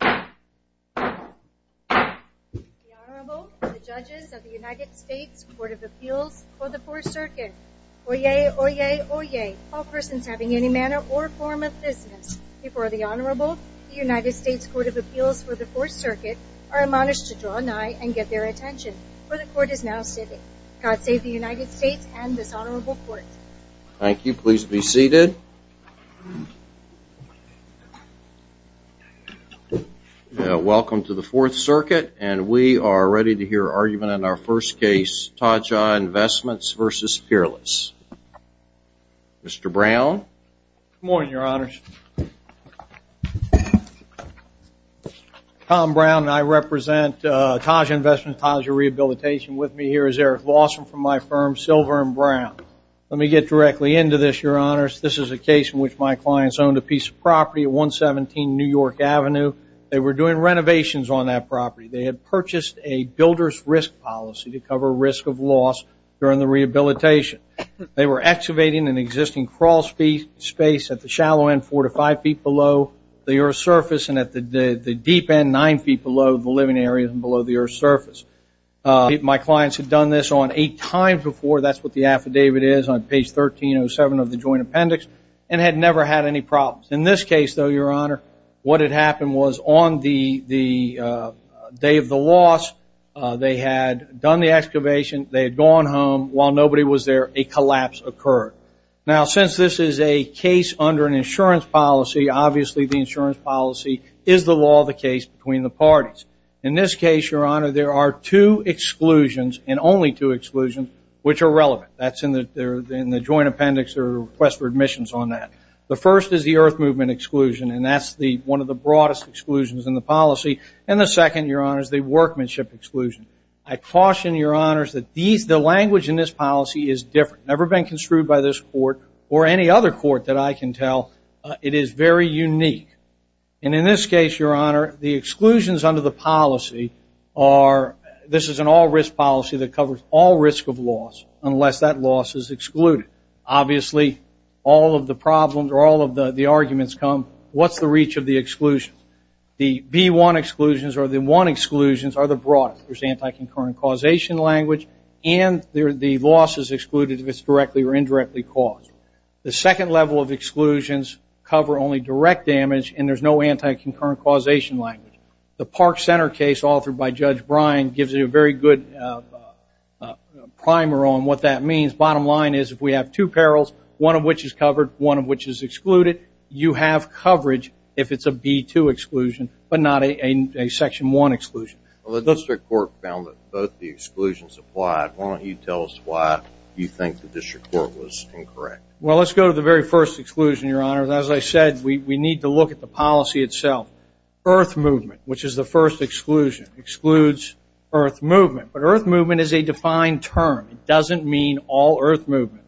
The Honorable, the Judges of the United States Court of Appeals for the Fourth Circuit. Oyez! Oyez! Oyez! All persons having any manner or form of business before the Honorable, the United States Court of Appeals for the Fourth Circuit, are admonished to draw nigh and get their attention, for the Court is now sitting. God save the United States and this Honorable Court. Thank you. Please be seated. Welcome to the Fourth Circuit and we are ready to hear argument in our first case, Taja Investments v. Peerless. Mr. Brown. Good morning, Your Honors. Tom Brown and I represent Taja Investments, Taja Rehabilitation. With me here is Eric Lawson from my firm, Silver and Brown. Let me get directly into this, Your Honors. This is a case in which my clients owned a piece of property at 117 New York Avenue. They were doing renovations on that property. They had purchased a builder's risk policy to cover risk of loss during the rehabilitation. They were excavating an existing crawl space at the shallow end, four to five feet below the earth's surface, and at the deep end, nine feet below the living area and below the earth's surface. My clients had done this on eight times before. That's what the affidavit is on page 1307 of the joint appendix and had never had any problems. In this case, though, Your Honor, what had happened was on the day of the loss, they had done the excavation. They had gone home. While nobody was there, a collapse occurred. Now, since this is a case under an insurance policy, obviously the insurance policy is the law of the case between the parties. In this case, Your Honor, there are two exclusions and only two exclusions which are relevant. That's in the joint appendix. There are requests for admissions on that. The first is the earth movement exclusion, and that's one of the broadest exclusions in the policy. And the second, Your Honor, is the workmanship exclusion. I caution, Your Honors, that the language in this policy is different, never been construed by this court or any other court that I can tell. It is very unique. And in this case, Your Honor, the exclusions under the policy are, this is an all-risk policy that covers all risk of loss unless that loss is excluded. Obviously, all of the problems or all of the arguments come, what's the reach of the exclusion? The B1 exclusions or the 1 exclusions are the broadest. There's anti-concurrent causation language, and the loss is excluded if it's directly or indirectly caused. The second level of exclusions cover only direct damage, and there's no anti-concurrent causation language. The Park Center case authored by Judge Bryan gives you a very good primer on what that means. Bottom line is if we have two perils, one of which is covered, one of which is excluded, you have coverage if it's a B2 exclusion but not a Section 1 exclusion. Well, the district court found that both the exclusions applied. Why don't you tell us why you think the district court was incorrect? Well, let's go to the very first exclusion, Your Honor. As I said, we need to look at the policy itself. Earth movement, which is the first exclusion, excludes earth movement. But earth movement is a defined term. It doesn't mean all earth movement.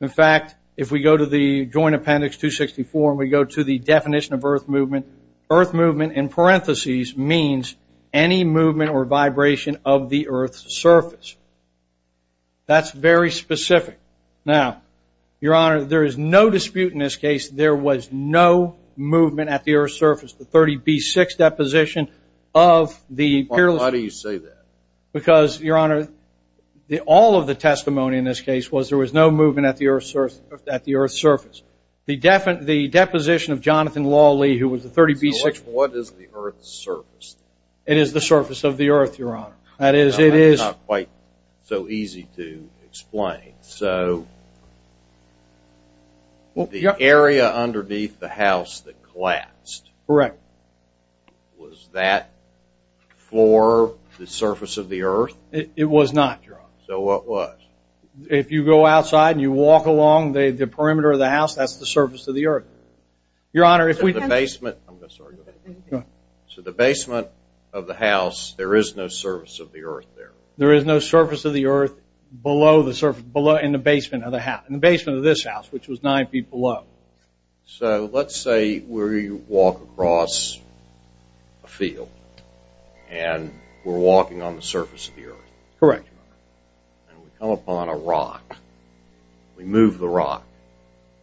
In fact, if we go to the Joint Appendix 264 and we go to the definition of earth movement, earth movement in parentheses means any movement or vibration of the earth's surface. That's very specific. Now, Your Honor, there is no dispute in this case there was no movement at the earth's surface, the 30B6 deposition of the peerless. Why do you say that? Because, Your Honor, all of the testimony in this case was there was no movement at the earth's surface. The deposition of Jonathan Lawley, who was the 30B6. So what is the earth's surface? It is the surface of the earth, Your Honor. That is, it is. It's not quite so easy to explain. So the area underneath the house that collapsed. Correct. Was that for the surface of the earth? It was not, Your Honor. So what was? If you go outside and you walk along the perimeter of the house, that's the surface of the earth. Your Honor, if we come to the basement. I'm sorry. Go ahead. So the basement of the house, there is no surface of the earth there. There is no surface of the earth below the surface, in the basement of the house, in the basement of this house, which was nine feet below. So let's say we walk across a field and we're walking on the surface of the earth. Correct, Your Honor. And we come upon a rock. We move the rock.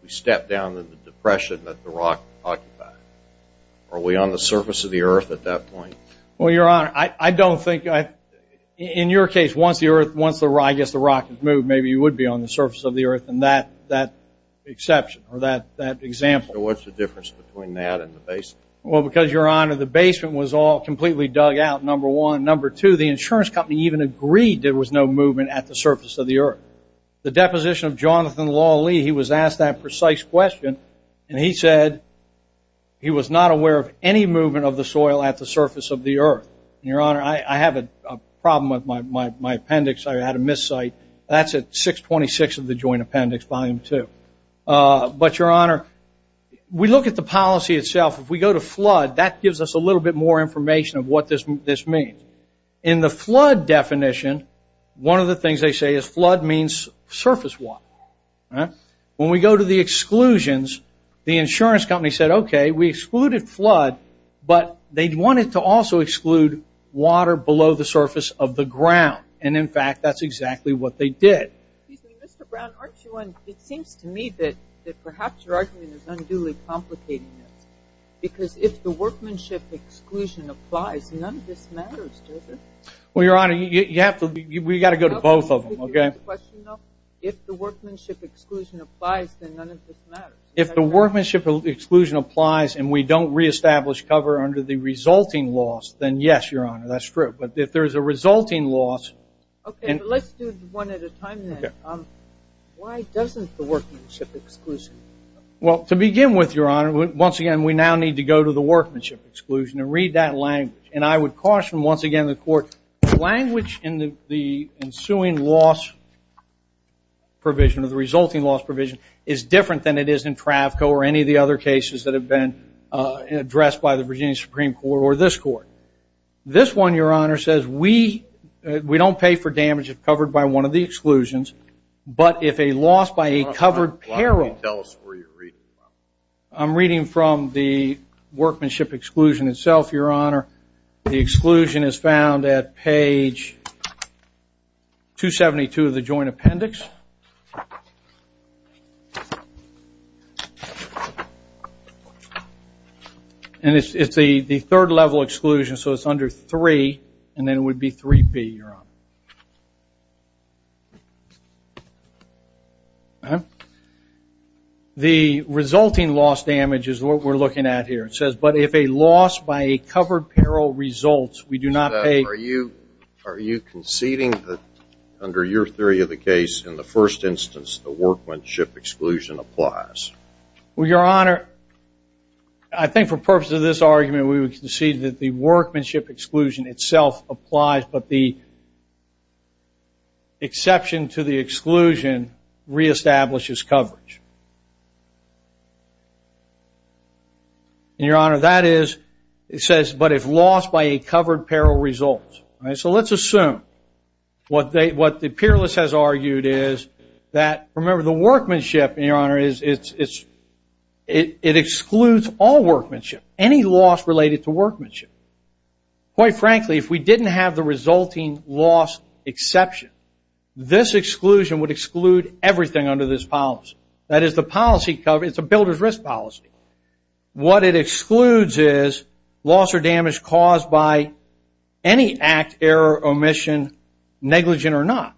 We step down in the depression that the rock occupied. Are we on the surface of the earth at that point? Well, Your Honor, I don't think. In your case, once the rock has moved, maybe you would be on the surface of the earth in that exception or that example. So what's the difference between that and the basement? Well, because, Your Honor, the basement was all completely dug out, number one. Number two, the insurance company even agreed there was no movement at the surface of the earth. The deposition of Jonathan Lawley, he was asked that precise question, and he said he was not aware of any movement of the soil at the surface of the earth. And, Your Honor, I have a problem with my appendix. I had a miss site. That's at 626 of the Joint Appendix, Volume 2. But, Your Honor, we look at the policy itself. If we go to flood, that gives us a little bit more information of what this means. In the flood definition, one of the things they say is flood means surface water. When we go to the exclusions, the insurance company said, okay, we excluded flood, but they wanted to also exclude water below the surface of the ground. And, in fact, that's exactly what they did. Excuse me, Mr. Brown, it seems to me that perhaps your argument is unduly complicating this because if the workmanship exclusion applies, none of this matters, does it? Well, Your Honor, we've got to go to both of them. Okay. If the workmanship exclusion applies, then none of this matters. If the workmanship exclusion applies and we don't reestablish cover under the resulting loss, then yes, Your Honor, that's true. But if there's a resulting loss. Okay, but let's do one at a time then. Why doesn't the workmanship exclusion? Well, to begin with, Your Honor, once again, we now need to go to the workmanship exclusion and read that language. And I would caution, once again, the Court, language in the ensuing loss provision or the resulting loss provision is different than it is in TRAFCO or any of the other cases that have been addressed by the Virginia Supreme Court or this Court. This one, Your Honor, says we don't pay for damage if covered by one of the exclusions, but if a loss by a covered peril. I'm reading from the workmanship exclusion itself, Your Honor. The exclusion is found at page 272 of the joint appendix. And it's the third level exclusion, so it's under 3, and then it would be 3P, Your Honor. The resulting loss damage is what we're looking at here. It says, but if a loss by a covered peril results, we do not pay. Are you conceding that under your theory of the case, in the first instance, the workmanship exclusion applies? Well, Your Honor, I think for purposes of this argument, we would concede that the workmanship exclusion itself applies, but the exception to the exclusion reestablishes coverage. And, Your Honor, that is, it says, but if loss by a covered peril results. So let's assume what the peerless has argued is that, remember, the workmanship, Your Honor, it excludes all workmanship, any loss related to workmanship. Quite frankly, if we didn't have the resulting loss exception, this exclusion would exclude everything under this policy. That is, the policy, it's a builder's risk policy. What it excludes is loss or damage caused by any act, error, omission, negligent or not.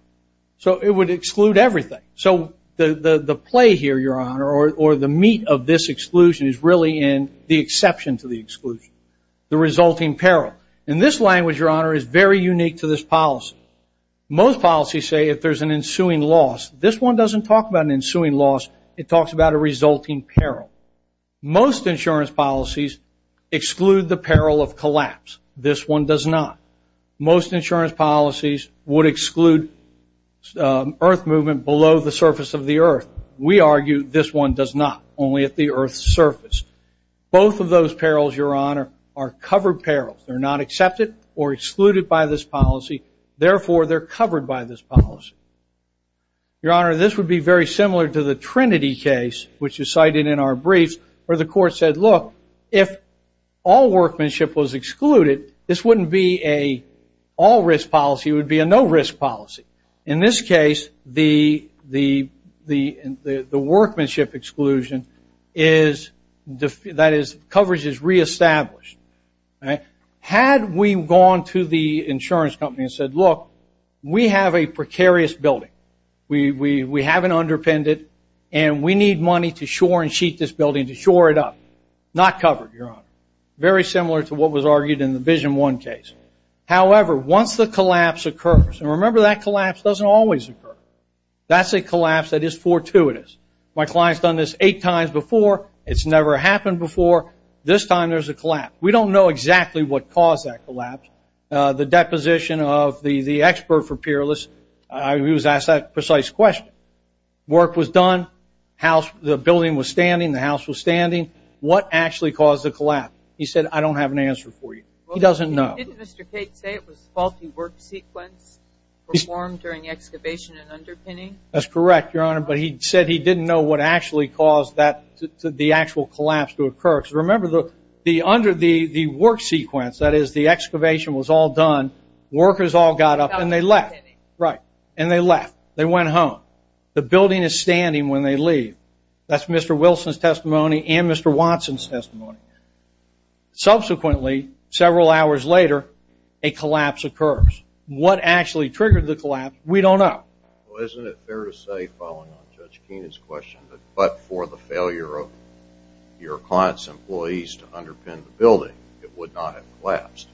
So it would exclude everything. So the play here, Your Honor, or the meat of this exclusion, is really in the exception to the exclusion, the resulting peril. In this language, Your Honor, is very unique to this policy. Most policies say if there's an ensuing loss. This one doesn't talk about an ensuing loss. It talks about a resulting peril. Most insurance policies exclude the peril of collapse. This one does not. Most insurance policies would exclude earth movement below the surface of the earth. We argue this one does not, only at the earth's surface. Both of those perils, Your Honor, are covered perils. They're not accepted or excluded by this policy. Therefore, they're covered by this policy. Your Honor, this would be very similar to the Trinity case, which is cited in our briefs, where the court said, look, if all workmanship was excluded, this wouldn't be an all-risk policy. It would be a no-risk policy. In this case, the workmanship exclusion is, that is, coverage is reestablished. Had we gone to the insurance company and said, look, we have a precarious building. We have an underpendent, and we need money to shore and sheet this building, to shore it up. Not covered, Your Honor. Very similar to what was argued in the Vision 1 case. However, once the collapse occurs, and remember that collapse doesn't always occur. That's a collapse that is fortuitous. My client's done this eight times before. It's never happened before. This time there's a collapse. We don't know exactly what caused that collapse. The deposition of the expert for Peerless, he was asked that precise question. Work was done. The building was standing. The house was standing. What actually caused the collapse? He said, I don't have an answer for you. He doesn't know. Didn't Mr. Kate say it was faulty work sequence performed during excavation and underpinning? That's correct, Your Honor, but he said he didn't know what actually caused the actual collapse to occur. Remember, under the work sequence, that is, the excavation was all done, workers all got up and they left. Right. And they left. They went home. The building is standing when they leave. That's Mr. Wilson's testimony and Mr. Watson's testimony. Subsequently, several hours later, a collapse occurs. What actually triggered the collapse, we don't know. Well, isn't it fair to say, following on Judge Keenan's question, that but for the failure of your client's employees to underpin the building, it would not have collapsed?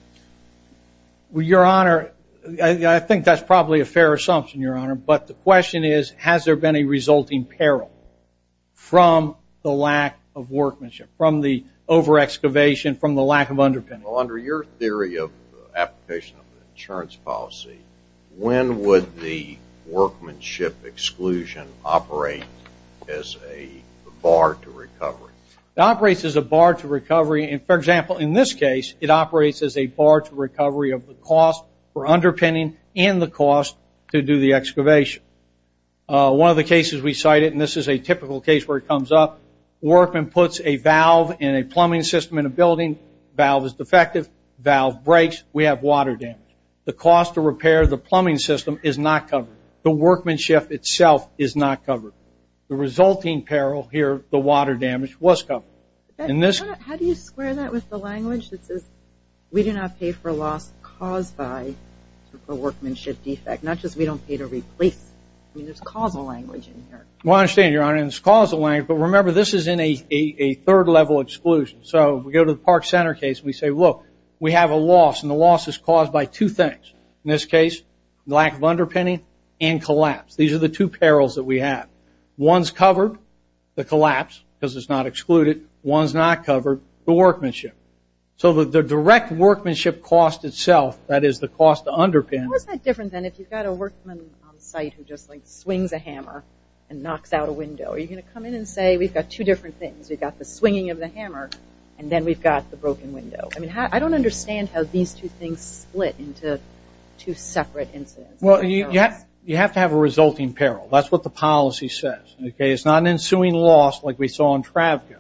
Well, Your Honor, I think that's probably a fair assumption, Your Honor, but the question is, has there been a resulting peril from the lack of workmanship, from the over-excavation, from the lack of underpinning? Well, under your theory of application of the insurance policy, when would the workmanship exclusion operate as a bar to recovery? It operates as a bar to recovery. For example, in this case, it operates as a bar to recovery of the cost for underpinning and the cost to do the excavation. One of the cases we cited, and this is a typical case where it comes up, workman puts a valve in a plumbing system in a building. Valve is defective. Valve breaks. We have water damage. The cost to repair the plumbing system is not covered. The workmanship itself is not covered. The resulting peril here, the water damage, was covered. How do you square that with the language that says, we do not pay for loss caused by a workmanship defect, not just we don't pay to replace? I mean, there's causal language in here. Well, I understand, Your Honor, and there's causal language, but remember this is in a third-level exclusion. So we go to the Park Center case and we say, look, we have a loss, and the loss is caused by two things. In this case, lack of underpinning and collapse. These are the two perils that we have. One's covered, the collapse, because it's not excluded. One's not covered, the workmanship. So the direct workmanship cost itself, that is the cost to underpin. How is that different than if you've got a workman on site who just, like, swings a hammer and knocks out a window? Are you going to come in and say, we've got two different things. We've got the swinging of the hammer, and then we've got the broken window. I mean, I don't understand how these two things split into two separate incidents. Well, you have to have a resulting peril. That's what the policy says. It's not an ensuing loss like we saw in Travco.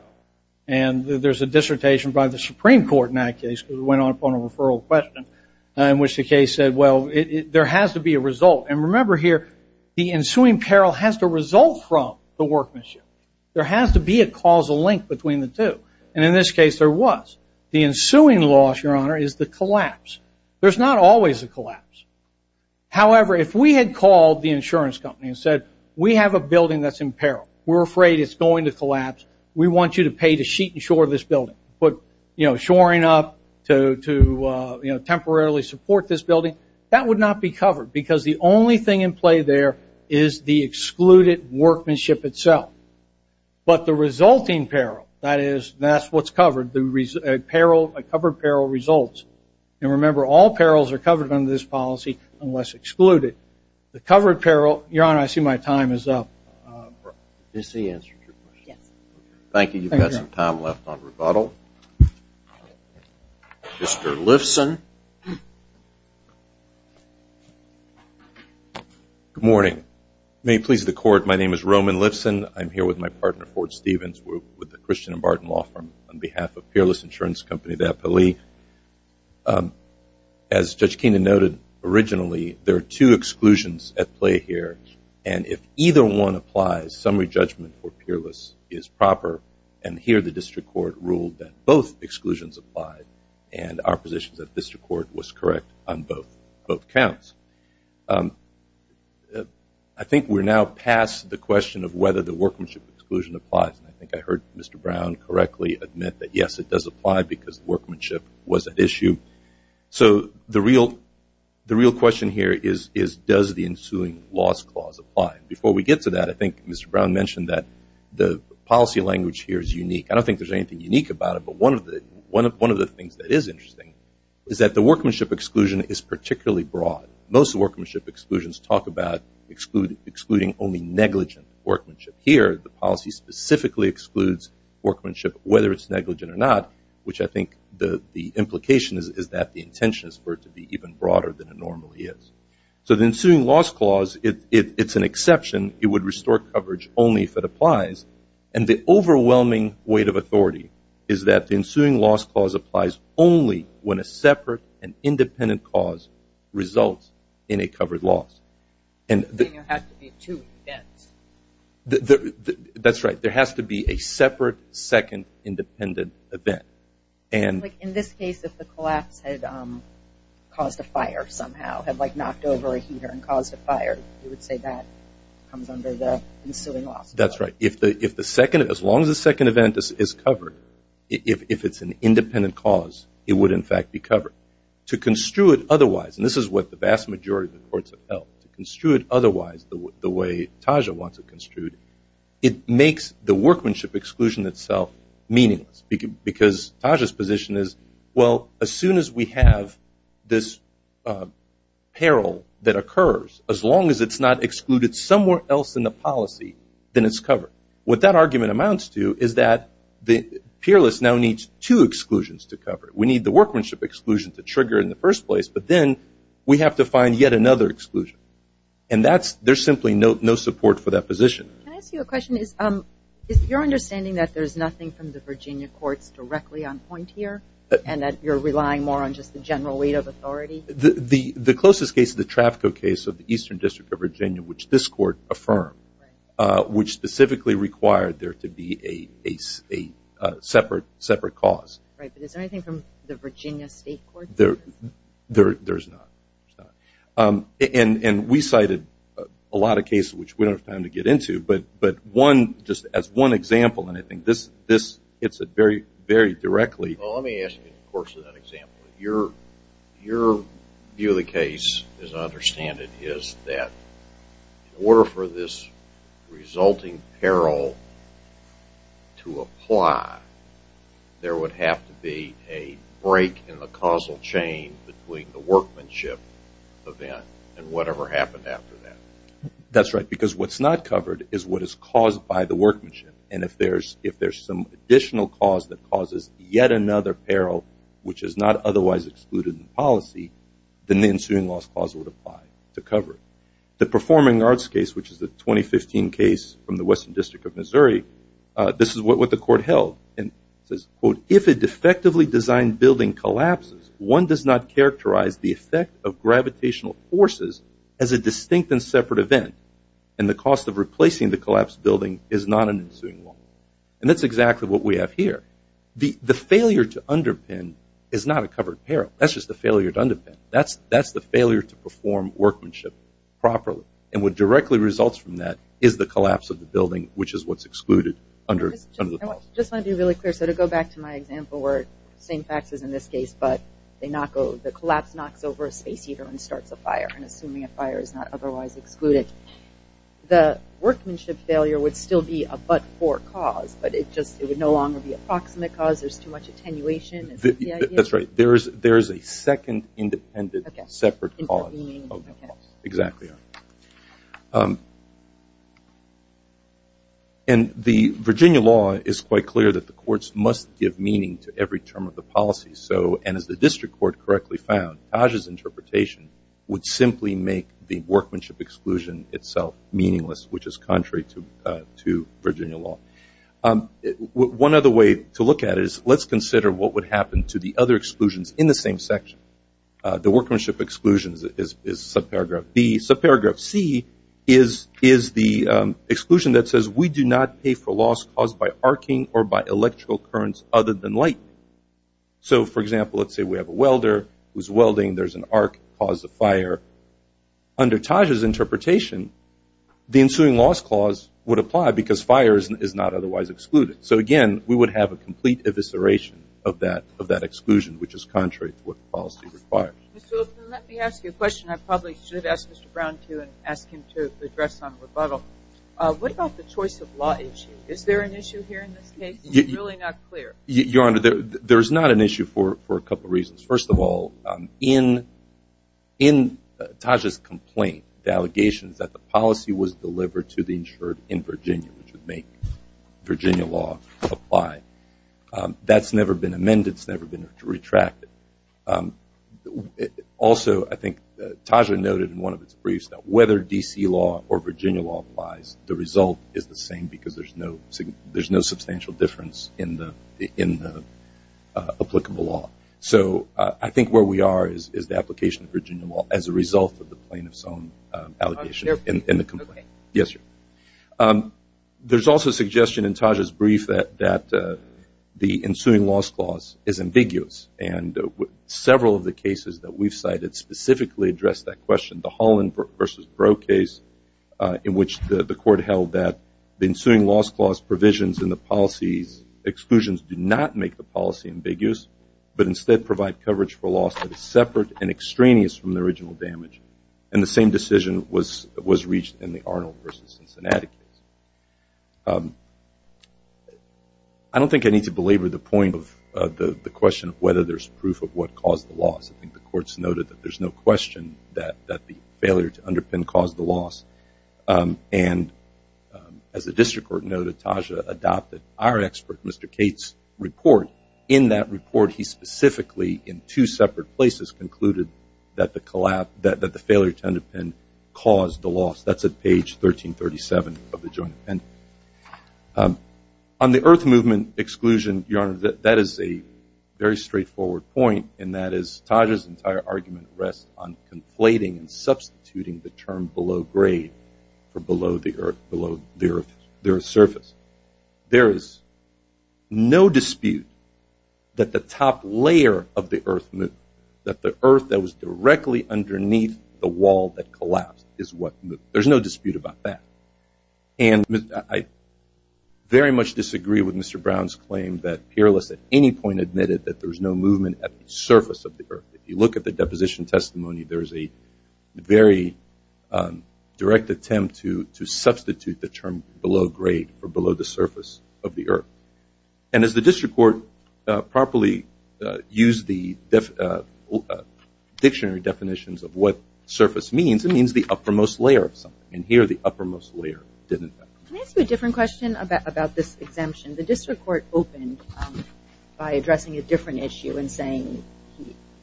And there's a dissertation by the Supreme Court in that case, because it went on upon a referral question, in which the case said, well, there has to be a result. And remember here, the ensuing peril has to result from the workmanship. There has to be a causal link between the two. And in this case there was. The ensuing loss, Your Honor, is the collapse. There's not always a collapse. However, if we had called the insurance company and said, we have a building that's in peril. We're afraid it's going to collapse. We want you to pay to sheet and shore this building, put shoring up to temporarily support this building. That would not be covered, because the only thing in play there is the excluded workmanship itself. But the resulting peril, that is, that's what's covered, the covered peril results. And remember, all perils are covered under this policy, unless excluded. The covered peril, Your Honor, I see my time is up. Is the answer to your question? Yes. Thank you. You've got some time left on rebuttal. Mr. Lifson. Good morning. May it please the Court, my name is Roman Lifson. I'm here with my partner, Ford Stevens, with the Christian and Barton Law Firm, on behalf of Peerless Insurance Company, the FLE. As Judge Keenan noted originally, there are two exclusions at play here, and if either one applies, summary judgment for Peerless is proper, and here the district court ruled that both exclusions applied, and our position is that the district court was correct on both counts. I think we're now past the question of whether the workmanship exclusion applies, and I think I heard Mr. Brown correctly admit that, yes, it does apply because workmanship was at issue. So the real question here is, does the ensuing loss clause apply? Before we get to that, I think Mr. Brown mentioned that the policy language here is unique. I don't think there's anything unique about it, but one of the things that is interesting is that the workmanship exclusion is particularly broad. Most workmanship exclusions talk about excluding only negligent workmanship. Here, the policy specifically excludes workmanship, whether it's negligent or not, which I think the implication is that the intention is for it to be even broader than it normally is. So the ensuing loss clause, it's an exception. It would restore coverage only if it applies, and the overwhelming weight of authority is that the ensuing loss clause applies only when a separate and independent cause results in a covered loss. Then there has to be two events. That's right. There has to be a separate, second, independent event. In this case, if the collapse had caused a fire somehow, had knocked over a heater and caused a fire, you would say that comes under the ensuing loss clause. That's right. As long as the second event is covered, if it's an independent cause, it would, in fact, be covered. However, to construe it otherwise, and this is what the vast majority of the courts have felt, to construe it otherwise the way Taja wants it construed, it makes the workmanship exclusion itself meaningless, because Taja's position is, well, as soon as we have this peril that occurs, as long as it's not excluded somewhere else in the policy, then it's covered. What that argument amounts to is that the peerless now needs two exclusions to cover it. We need the workmanship exclusion to trigger it in the first place, but then we have to find yet another exclusion, and there's simply no support for that position. Can I ask you a question? Is your understanding that there's nothing from the Virginia courts directly on point here and that you're relying more on just the general weight of authority? The closest case is the Trafco case of the Eastern District of Virginia, which this court affirmed, which specifically required there to be a separate cause. Right, but is there anything from the Virginia state courts? There's not. And we cited a lot of cases, which we don't have time to get into, but one, just as one example, and I think this hits it very, very directly. Well, let me ask you in the course of that example. Your view of the case, as I understand it, is that in order for this resulting peril to apply, there would have to be a break in the causal chain between the workmanship event and whatever happened after that. That's right, because what's not covered is what is caused by the workmanship. And if there's some additional cause that causes yet another peril, which is not otherwise excluded in policy, then the ensuing loss clause would apply to cover it. The Performing Arts case, which is the 2015 case from the Western District of Missouri, this is what the court held, and it says, quote, if a defectively designed building collapses, one does not characterize the effect of gravitational forces as a distinct and separate event, and the cost of replacing the collapsed building is not an ensuing loss. And that's exactly what we have here. The failure to underpin is not a covered peril. That's just a failure to underpin. That's the failure to perform workmanship properly, and what directly results from that is the collapse of the building, which is what's excluded under the policy. I just want to be really clear. So to go back to my example where the same facts as in this case, but the collapse knocks over a space heater and starts a fire, and assuming a fire is not otherwise excluded, the workmanship failure would still be a but-for cause, but it would no longer be a proximate cause. There's too much attenuation. That's right. There is a second independent separate cause. Exactly. And the Virginia law is quite clear that the courts must give meaning to every term of the policy, and as the district court correctly found, Taj's interpretation would simply make the workmanship exclusion itself meaningless, which is contrary to Virginia law. One other way to look at it is let's consider what would happen to the other exclusions in the same section. The workmanship exclusion is subparagraph B. Subparagraph C is the exclusion that says we do not pay for loss caused by arcing or by electrical currents other than light. So, for example, let's say we have a welder who's welding. There's an arc that caused a fire. Under Taj's interpretation, the ensuing loss clause would apply because fire is not otherwise excluded. So, again, we would have a complete evisceration of that exclusion, which is contrary to what the policy requires. Mr. Lippman, let me ask you a question I probably should ask Mr. Brown to and ask him to address on rebuttal. What about the choice of law issue? Is there an issue here in this case? It's really not clear. Your Honor, there's not an issue for a couple reasons. First of all, in Taj's complaint, the allegation is that the policy was delivered to the insured in Virginia, which would make Virginia law apply. That's never been amended. It's never been retracted. Also, I think Taj had noted in one of its briefs that whether D.C. law or Virginia law applies, the result is the same because there's no substantial difference in the applicable law. So I think where we are is the application of Virginia law as a result of the plaintiff's own allegation in the complaint. Yes, sir. There's also a suggestion in Taj's brief that the ensuing loss clause is ambiguous. And several of the cases that we've cited specifically address that question. The Holland v. Brough case in which the court held that the ensuing loss clause provisions in the policy's exclusions do not make the policy ambiguous but instead provide coverage for loss that is separate and extraneous from the original damage. And the same decision was reached in the Arnold v. Cincinnati case. I don't think I need to belabor the point of the question of whether there's proof of what caused the loss. I think the court's noted that there's no question that the failure to underpin caused the loss. And as the district court noted, Taj adopted our expert, Mr. Cate's, report. In that report, he specifically, in two separate places, concluded that the failure to underpin caused the loss. That's at page 1337 of the joint appendix. On the earth movement exclusion, Your Honor, that is a very straightforward point, and that is Taj's entire argument rests on conflating and substituting the term below grade for below the earth surface. There is no dispute that the top layer of the earth movement, that the earth that was directly underneath the wall that collapsed, is what moved. There's no dispute about that. And I very much disagree with Mr. Brown's claim that Peerless at any point admitted that there's no movement at the surface of the earth. If you look at the deposition testimony, there's a very direct attempt to substitute the term below grade for below the surface of the earth. And as the district court properly used the dictionary definitions of what surface means, it means the uppermost layer of something. And here, the uppermost layer didn't happen. Can I ask you a different question about this exemption? The district court opened by addressing a different issue and saying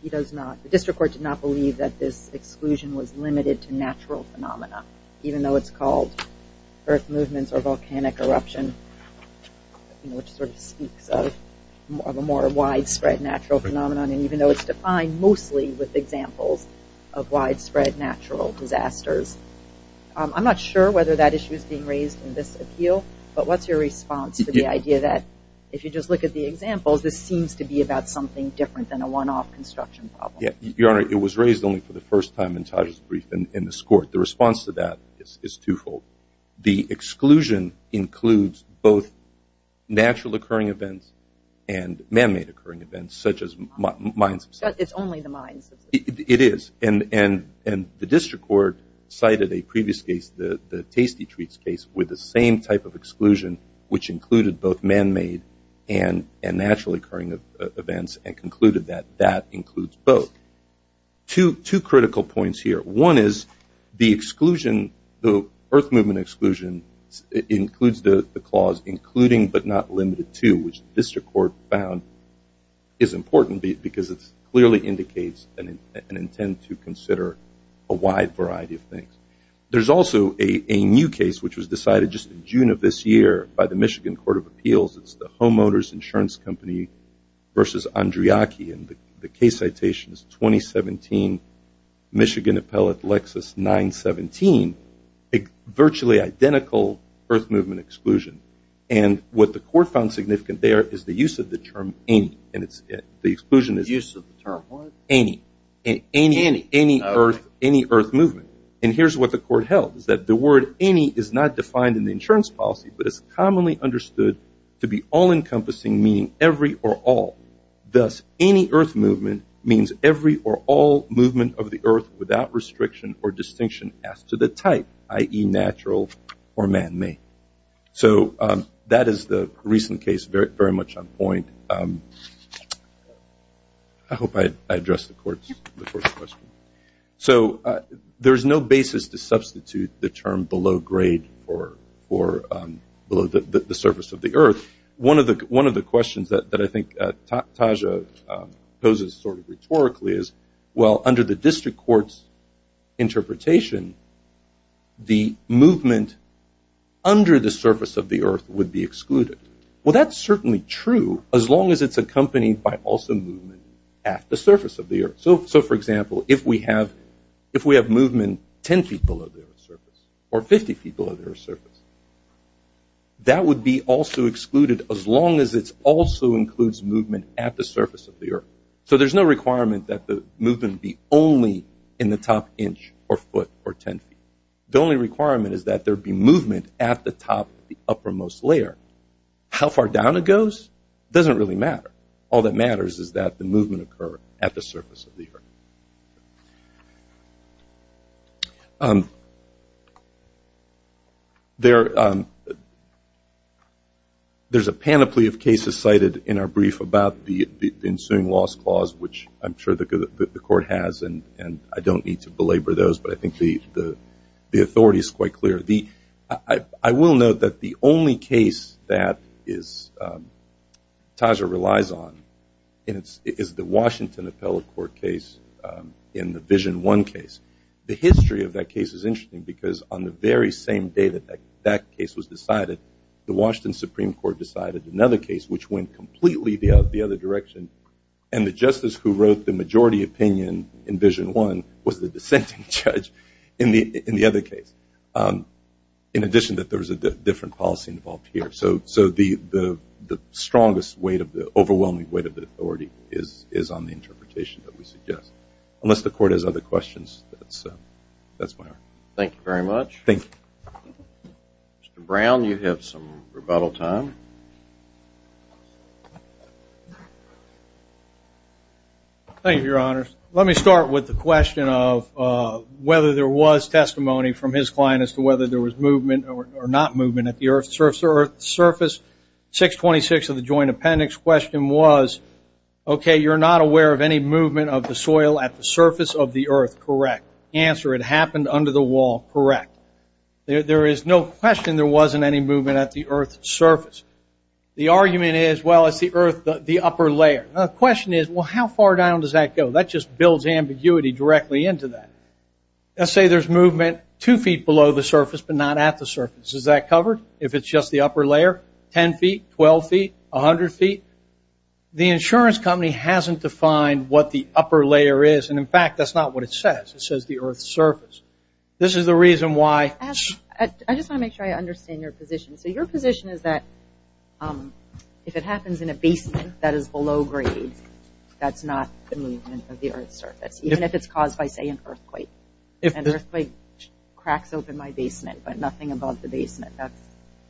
he does not, the district court did not believe that this exclusion was limited to earth movements or volcanic eruption, which sort of speaks of a more widespread natural phenomenon. And even though it's defined mostly with examples of widespread natural disasters, I'm not sure whether that issue is being raised in this appeal. But what's your response to the idea that if you just look at the examples, this seems to be about something different than a one-off construction problem? Your Honor, it was raised only for the first time in Taj's brief in this court. The response to that is twofold. The exclusion includes both natural occurring events and man-made occurring events, such as mines. It's only the mines. It is. And the district court cited a previous case, the Tasty Treats case, with the same type of exclusion, which included both man-made and natural occurring events and concluded that that includes both. Two critical points here. One is the exclusion, the earth movement exclusion includes the clause including but not limited to, which the district court found is important because it clearly indicates an intent to consider a wide variety of things. There's also a new case which was decided just in June of this year by the Michigan Court of Appeals. It's the Homeowners Insurance Company v. Andriachi. And the case citation is 2017, Michigan Appellate Lexus 917, a virtually identical earth movement exclusion. And what the court found significant there is the use of the term any. The exclusion is any. Any earth movement. And here's what the court held is that the word any is not defined in the insurance policy, but it's commonly understood to be all-encompassing, meaning every or all. Thus, any earth movement means every or all movement of the earth without restriction or distinction as to the type, i.e., natural or man-made. So that is the recent case very much on point. I hope I addressed the court's question. So there's no basis to substitute the term below grade or below the surface of the earth. One of the questions that I think Taja poses sort of rhetorically is, well, under the district court's interpretation, the movement under the surface of the earth would be excluded. Well, that's certainly true as long as it's accompanied by also movement at the surface of the earth. So, for example, if we have movement 10 feet below the earth's surface or 50 feet below the earth's surface, that would be also excluded as long as it also includes movement at the surface of the earth. So there's no requirement that the movement be only in the top inch or foot or 10 feet. The only requirement is that there be movement at the top of the uppermost layer. How far down it goes doesn't really matter. All that matters is that the movement occur at the surface of the earth. There's a panoply of cases cited in our brief about the ensuing loss clause, which I'm sure the court has, and I don't need to belabor those, but I think the authority is quite clear. I will note that the only case that Taja relies on is the Washington Appellate Court case in the Vision 1 case. The history of that case is interesting because on the very same day that that case was decided, the Washington Supreme Court decided another case, which went completely the other direction, and the justice who wrote the majority opinion in Vision 1 was the dissenting judge in the other case. In addition, there was a different policy involved here. So the strongest weight of the overwhelming weight of the authority is on the interpretation that we suggest. Unless the court has other questions, that's my argument. Thank you very much. Thank you. Thank you, Your Honors. Let me start with the question of whether there was testimony from his client as to whether there was movement or not movement at the earth's surface. 626 of the Joint Appendix question was, okay, you're not aware of any movement of the soil at the surface of the earth. Correct. Answer, it happened under the wall. Correct. There is no question there wasn't any movement at the earth's surface. The argument is, well, it's the earth, the upper layer. The question is, well, how far down does that go? That just builds ambiguity directly into that. Let's say there's movement two feet below the surface but not at the surface. Is that covered if it's just the upper layer, 10 feet, 12 feet, 100 feet? The insurance company hasn't defined what the upper layer is. And, in fact, that's not what it says. It says the earth's surface. This is the reason why. I just want to make sure I understand your position. So your position is that if it happens in a basement that is below grade, that's not the movement of the earth's surface, even if it's caused by, say, an earthquake. An earthquake cracks open my basement but nothing above the basement. That's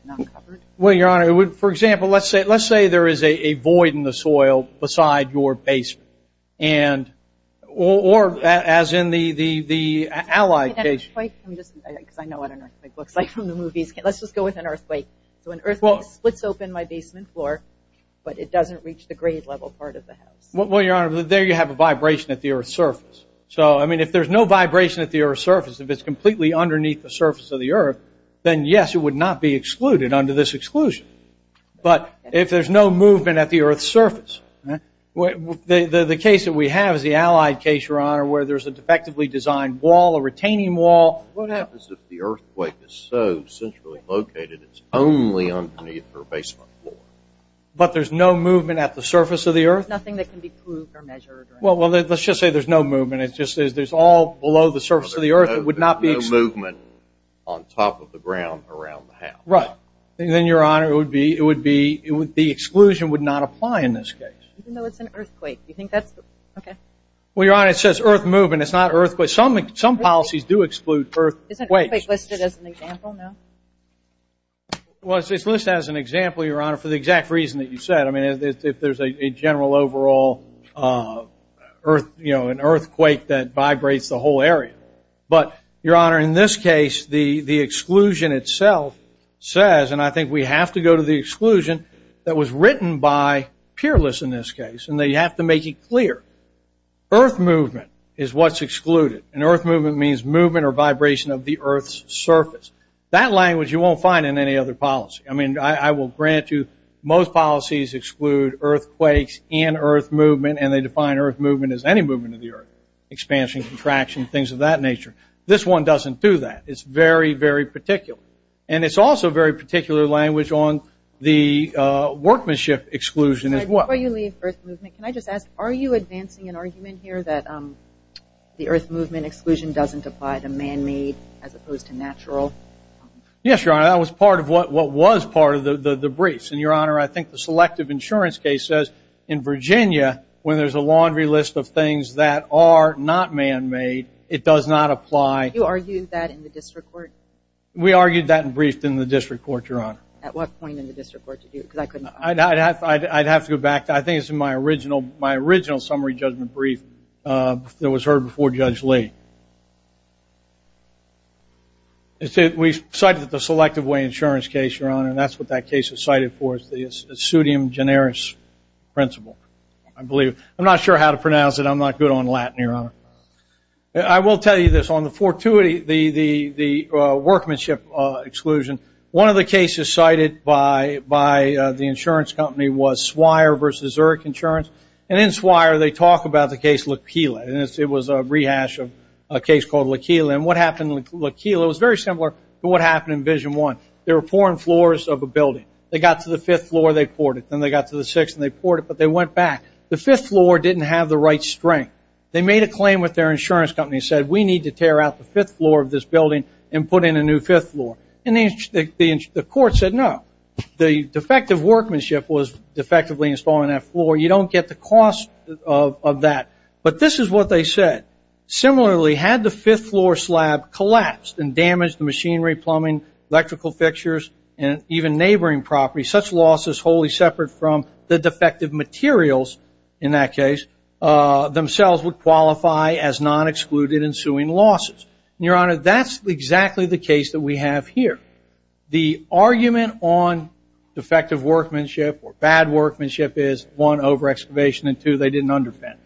not covered? Well, Your Honor, for example, let's say there is a void in the soil beside your basement or as in the Allied case. I know what an earthquake looks like from the movies. Let's just go with an earthquake. So an earthquake splits open my basement floor but it doesn't reach the grade level part of the house. Well, Your Honor, there you have a vibration at the earth's surface. So, I mean, if there's no vibration at the earth's surface, if it's completely underneath the surface of the earth, then, yes, it would not be excluded under this exclusion. But if there's no movement at the earth's surface, the case that we have is the Allied case, Your Honor, where there's a defectively designed wall, a retaining wall. What happens if the earthquake is so centrally located it's only underneath her basement floor? But there's no movement at the surface of the earth? Nothing that can be proved or measured. Well, let's just say there's no movement. It's just that there's all below the surface of the earth. There's no movement on top of the ground around the house. Right. And then, Your Honor, the exclusion would not apply in this case. Even though it's an earthquake. Well, Your Honor, it says earth movement. It's not earthquake. But some policies do exclude earthquakes. Isn't earthquake listed as an example now? Well, it's listed as an example, Your Honor, for the exact reason that you said. I mean, if there's a general overall earthquake that vibrates the whole area. But, Your Honor, in this case, the exclusion itself says, and I think we have to go to the exclusion that was written by Peerless in this case, and they have to make it clear. Earth movement is what's excluded. And earth movement means movement or vibration of the earth's surface. That language you won't find in any other policy. I mean, I will grant you most policies exclude earthquakes and earth movement, and they define earth movement as any movement of the earth. Expansion, contraction, things of that nature. This one doesn't do that. It's very, very particular. And it's also very particular language on the workmanship exclusion as well. Before you leave earth movement, can I just ask, are you advancing an argument here that the earth movement exclusion doesn't apply to man-made as opposed to natural? Yes, Your Honor. That was part of what was part of the briefs. And, Your Honor, I think the selective insurance case says in Virginia, when there's a laundry list of things that are not man-made, it does not apply. You argued that in the district court? We argued that and briefed in the district court, Your Honor. At what point in the district court did you? I'd have to go back. I think it's in my original summary judgment brief that was heard before Judge Lee. We cited the selective way insurance case, Your Honor, and that's what that case is cited for is the pseudium generis principle, I believe. I'm not sure how to pronounce it. I'm not good on Latin, Your Honor. I will tell you this. On the fortuity, the workmanship exclusion, one of the cases cited by the insurance company was Swire v. Zurich Insurance. And in Swire, they talk about the case Laquila. It was a rehash of a case called Laquila. And what happened in Laquila was very similar to what happened in Vision 1. They were pouring floors of a building. They got to the fifth floor, they poured it. Then they got to the sixth and they poured it, but they went back. The fifth floor didn't have the right strength. They made a claim with their insurance company and said, we need to tear out the fifth floor of this building and put in a new fifth floor. And the court said no. The defective workmanship was defectively installing that floor. You don't get the cost of that. But this is what they said. Similarly, had the fifth floor slab collapsed and damaged the machinery, plumbing, electrical fixtures, and even neighboring property, such loss is wholly separate from the defective materials in that case themselves would qualify as non-excluded ensuing losses. And, Your Honor, that's exactly the case that we have here. The argument on defective workmanship or bad workmanship is one, over-excavation, and two, they didn't underpin.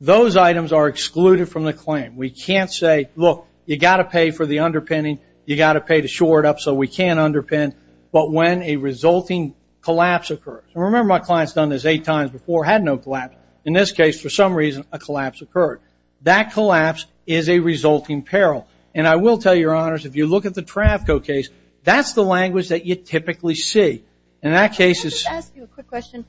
Those items are excluded from the claim. We can't say, look, you got to pay for the underpinning. You got to pay to shore it up so we can underpin. But when a resulting collapse occurs, and remember my client's done this eight times before, had no collapse. In this case, for some reason, a collapse occurred. That collapse is a resulting peril. And I will tell you, Your Honors, if you look at the Trafco case, that's the language that you typically see. In that case, it's- Let me just ask you a quick question.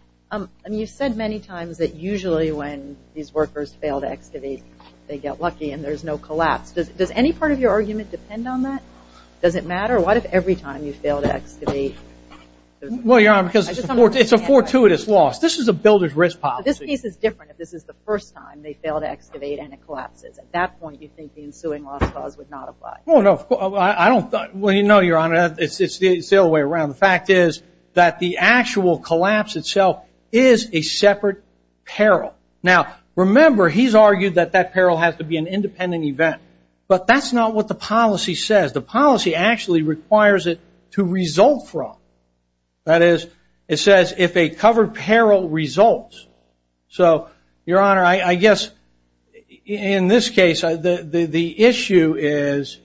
You've said many times that usually when these workers fail to excavate, they get lucky and there's no collapse. Does any part of your argument depend on that? Does it matter? What if every time you fail to excavate- Well, Your Honor, because it's a fortuitous loss. This is a builder's risk policy. This case is different if this is the first time they fail to excavate and it collapses. At that point, you think the ensuing loss clause would not apply. Well, no, I don't- Well, you know, Your Honor, it's the other way around. The fact is that the actual collapse itself is a separate peril. Now, remember, he's argued that that peril has to be an independent event, but that's not what the policy says. The policy actually requires it to result from. That is, it says if a covered peril results. So, Your Honor, I guess in this case the issue is,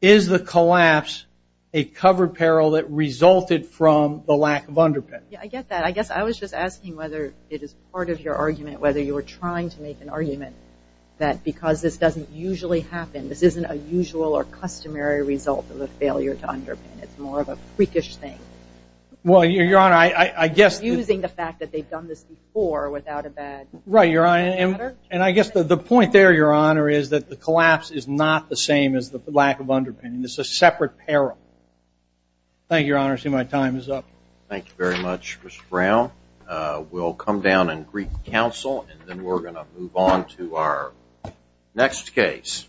is the collapse a covered peril that resulted from the lack of underpinning? Yeah, I get that. I guess I was just asking whether it is part of your argument, whether you were trying to make an argument that because this doesn't usually happen, this isn't a usual or customary result of a failure to underpin, it's more of a freakish thing. Well, Your Honor, I guess- Refusing the fact that they've done this before without a bad- Right, Your Honor, and I guess the point there, Your Honor, is that the collapse is not the same as the lack of underpinning. It's a separate peril. Thank you, Your Honor. I see my time is up. Thank you very much, Mr. Brown. We'll come down and greet counsel, and then we're going to move on to our next case.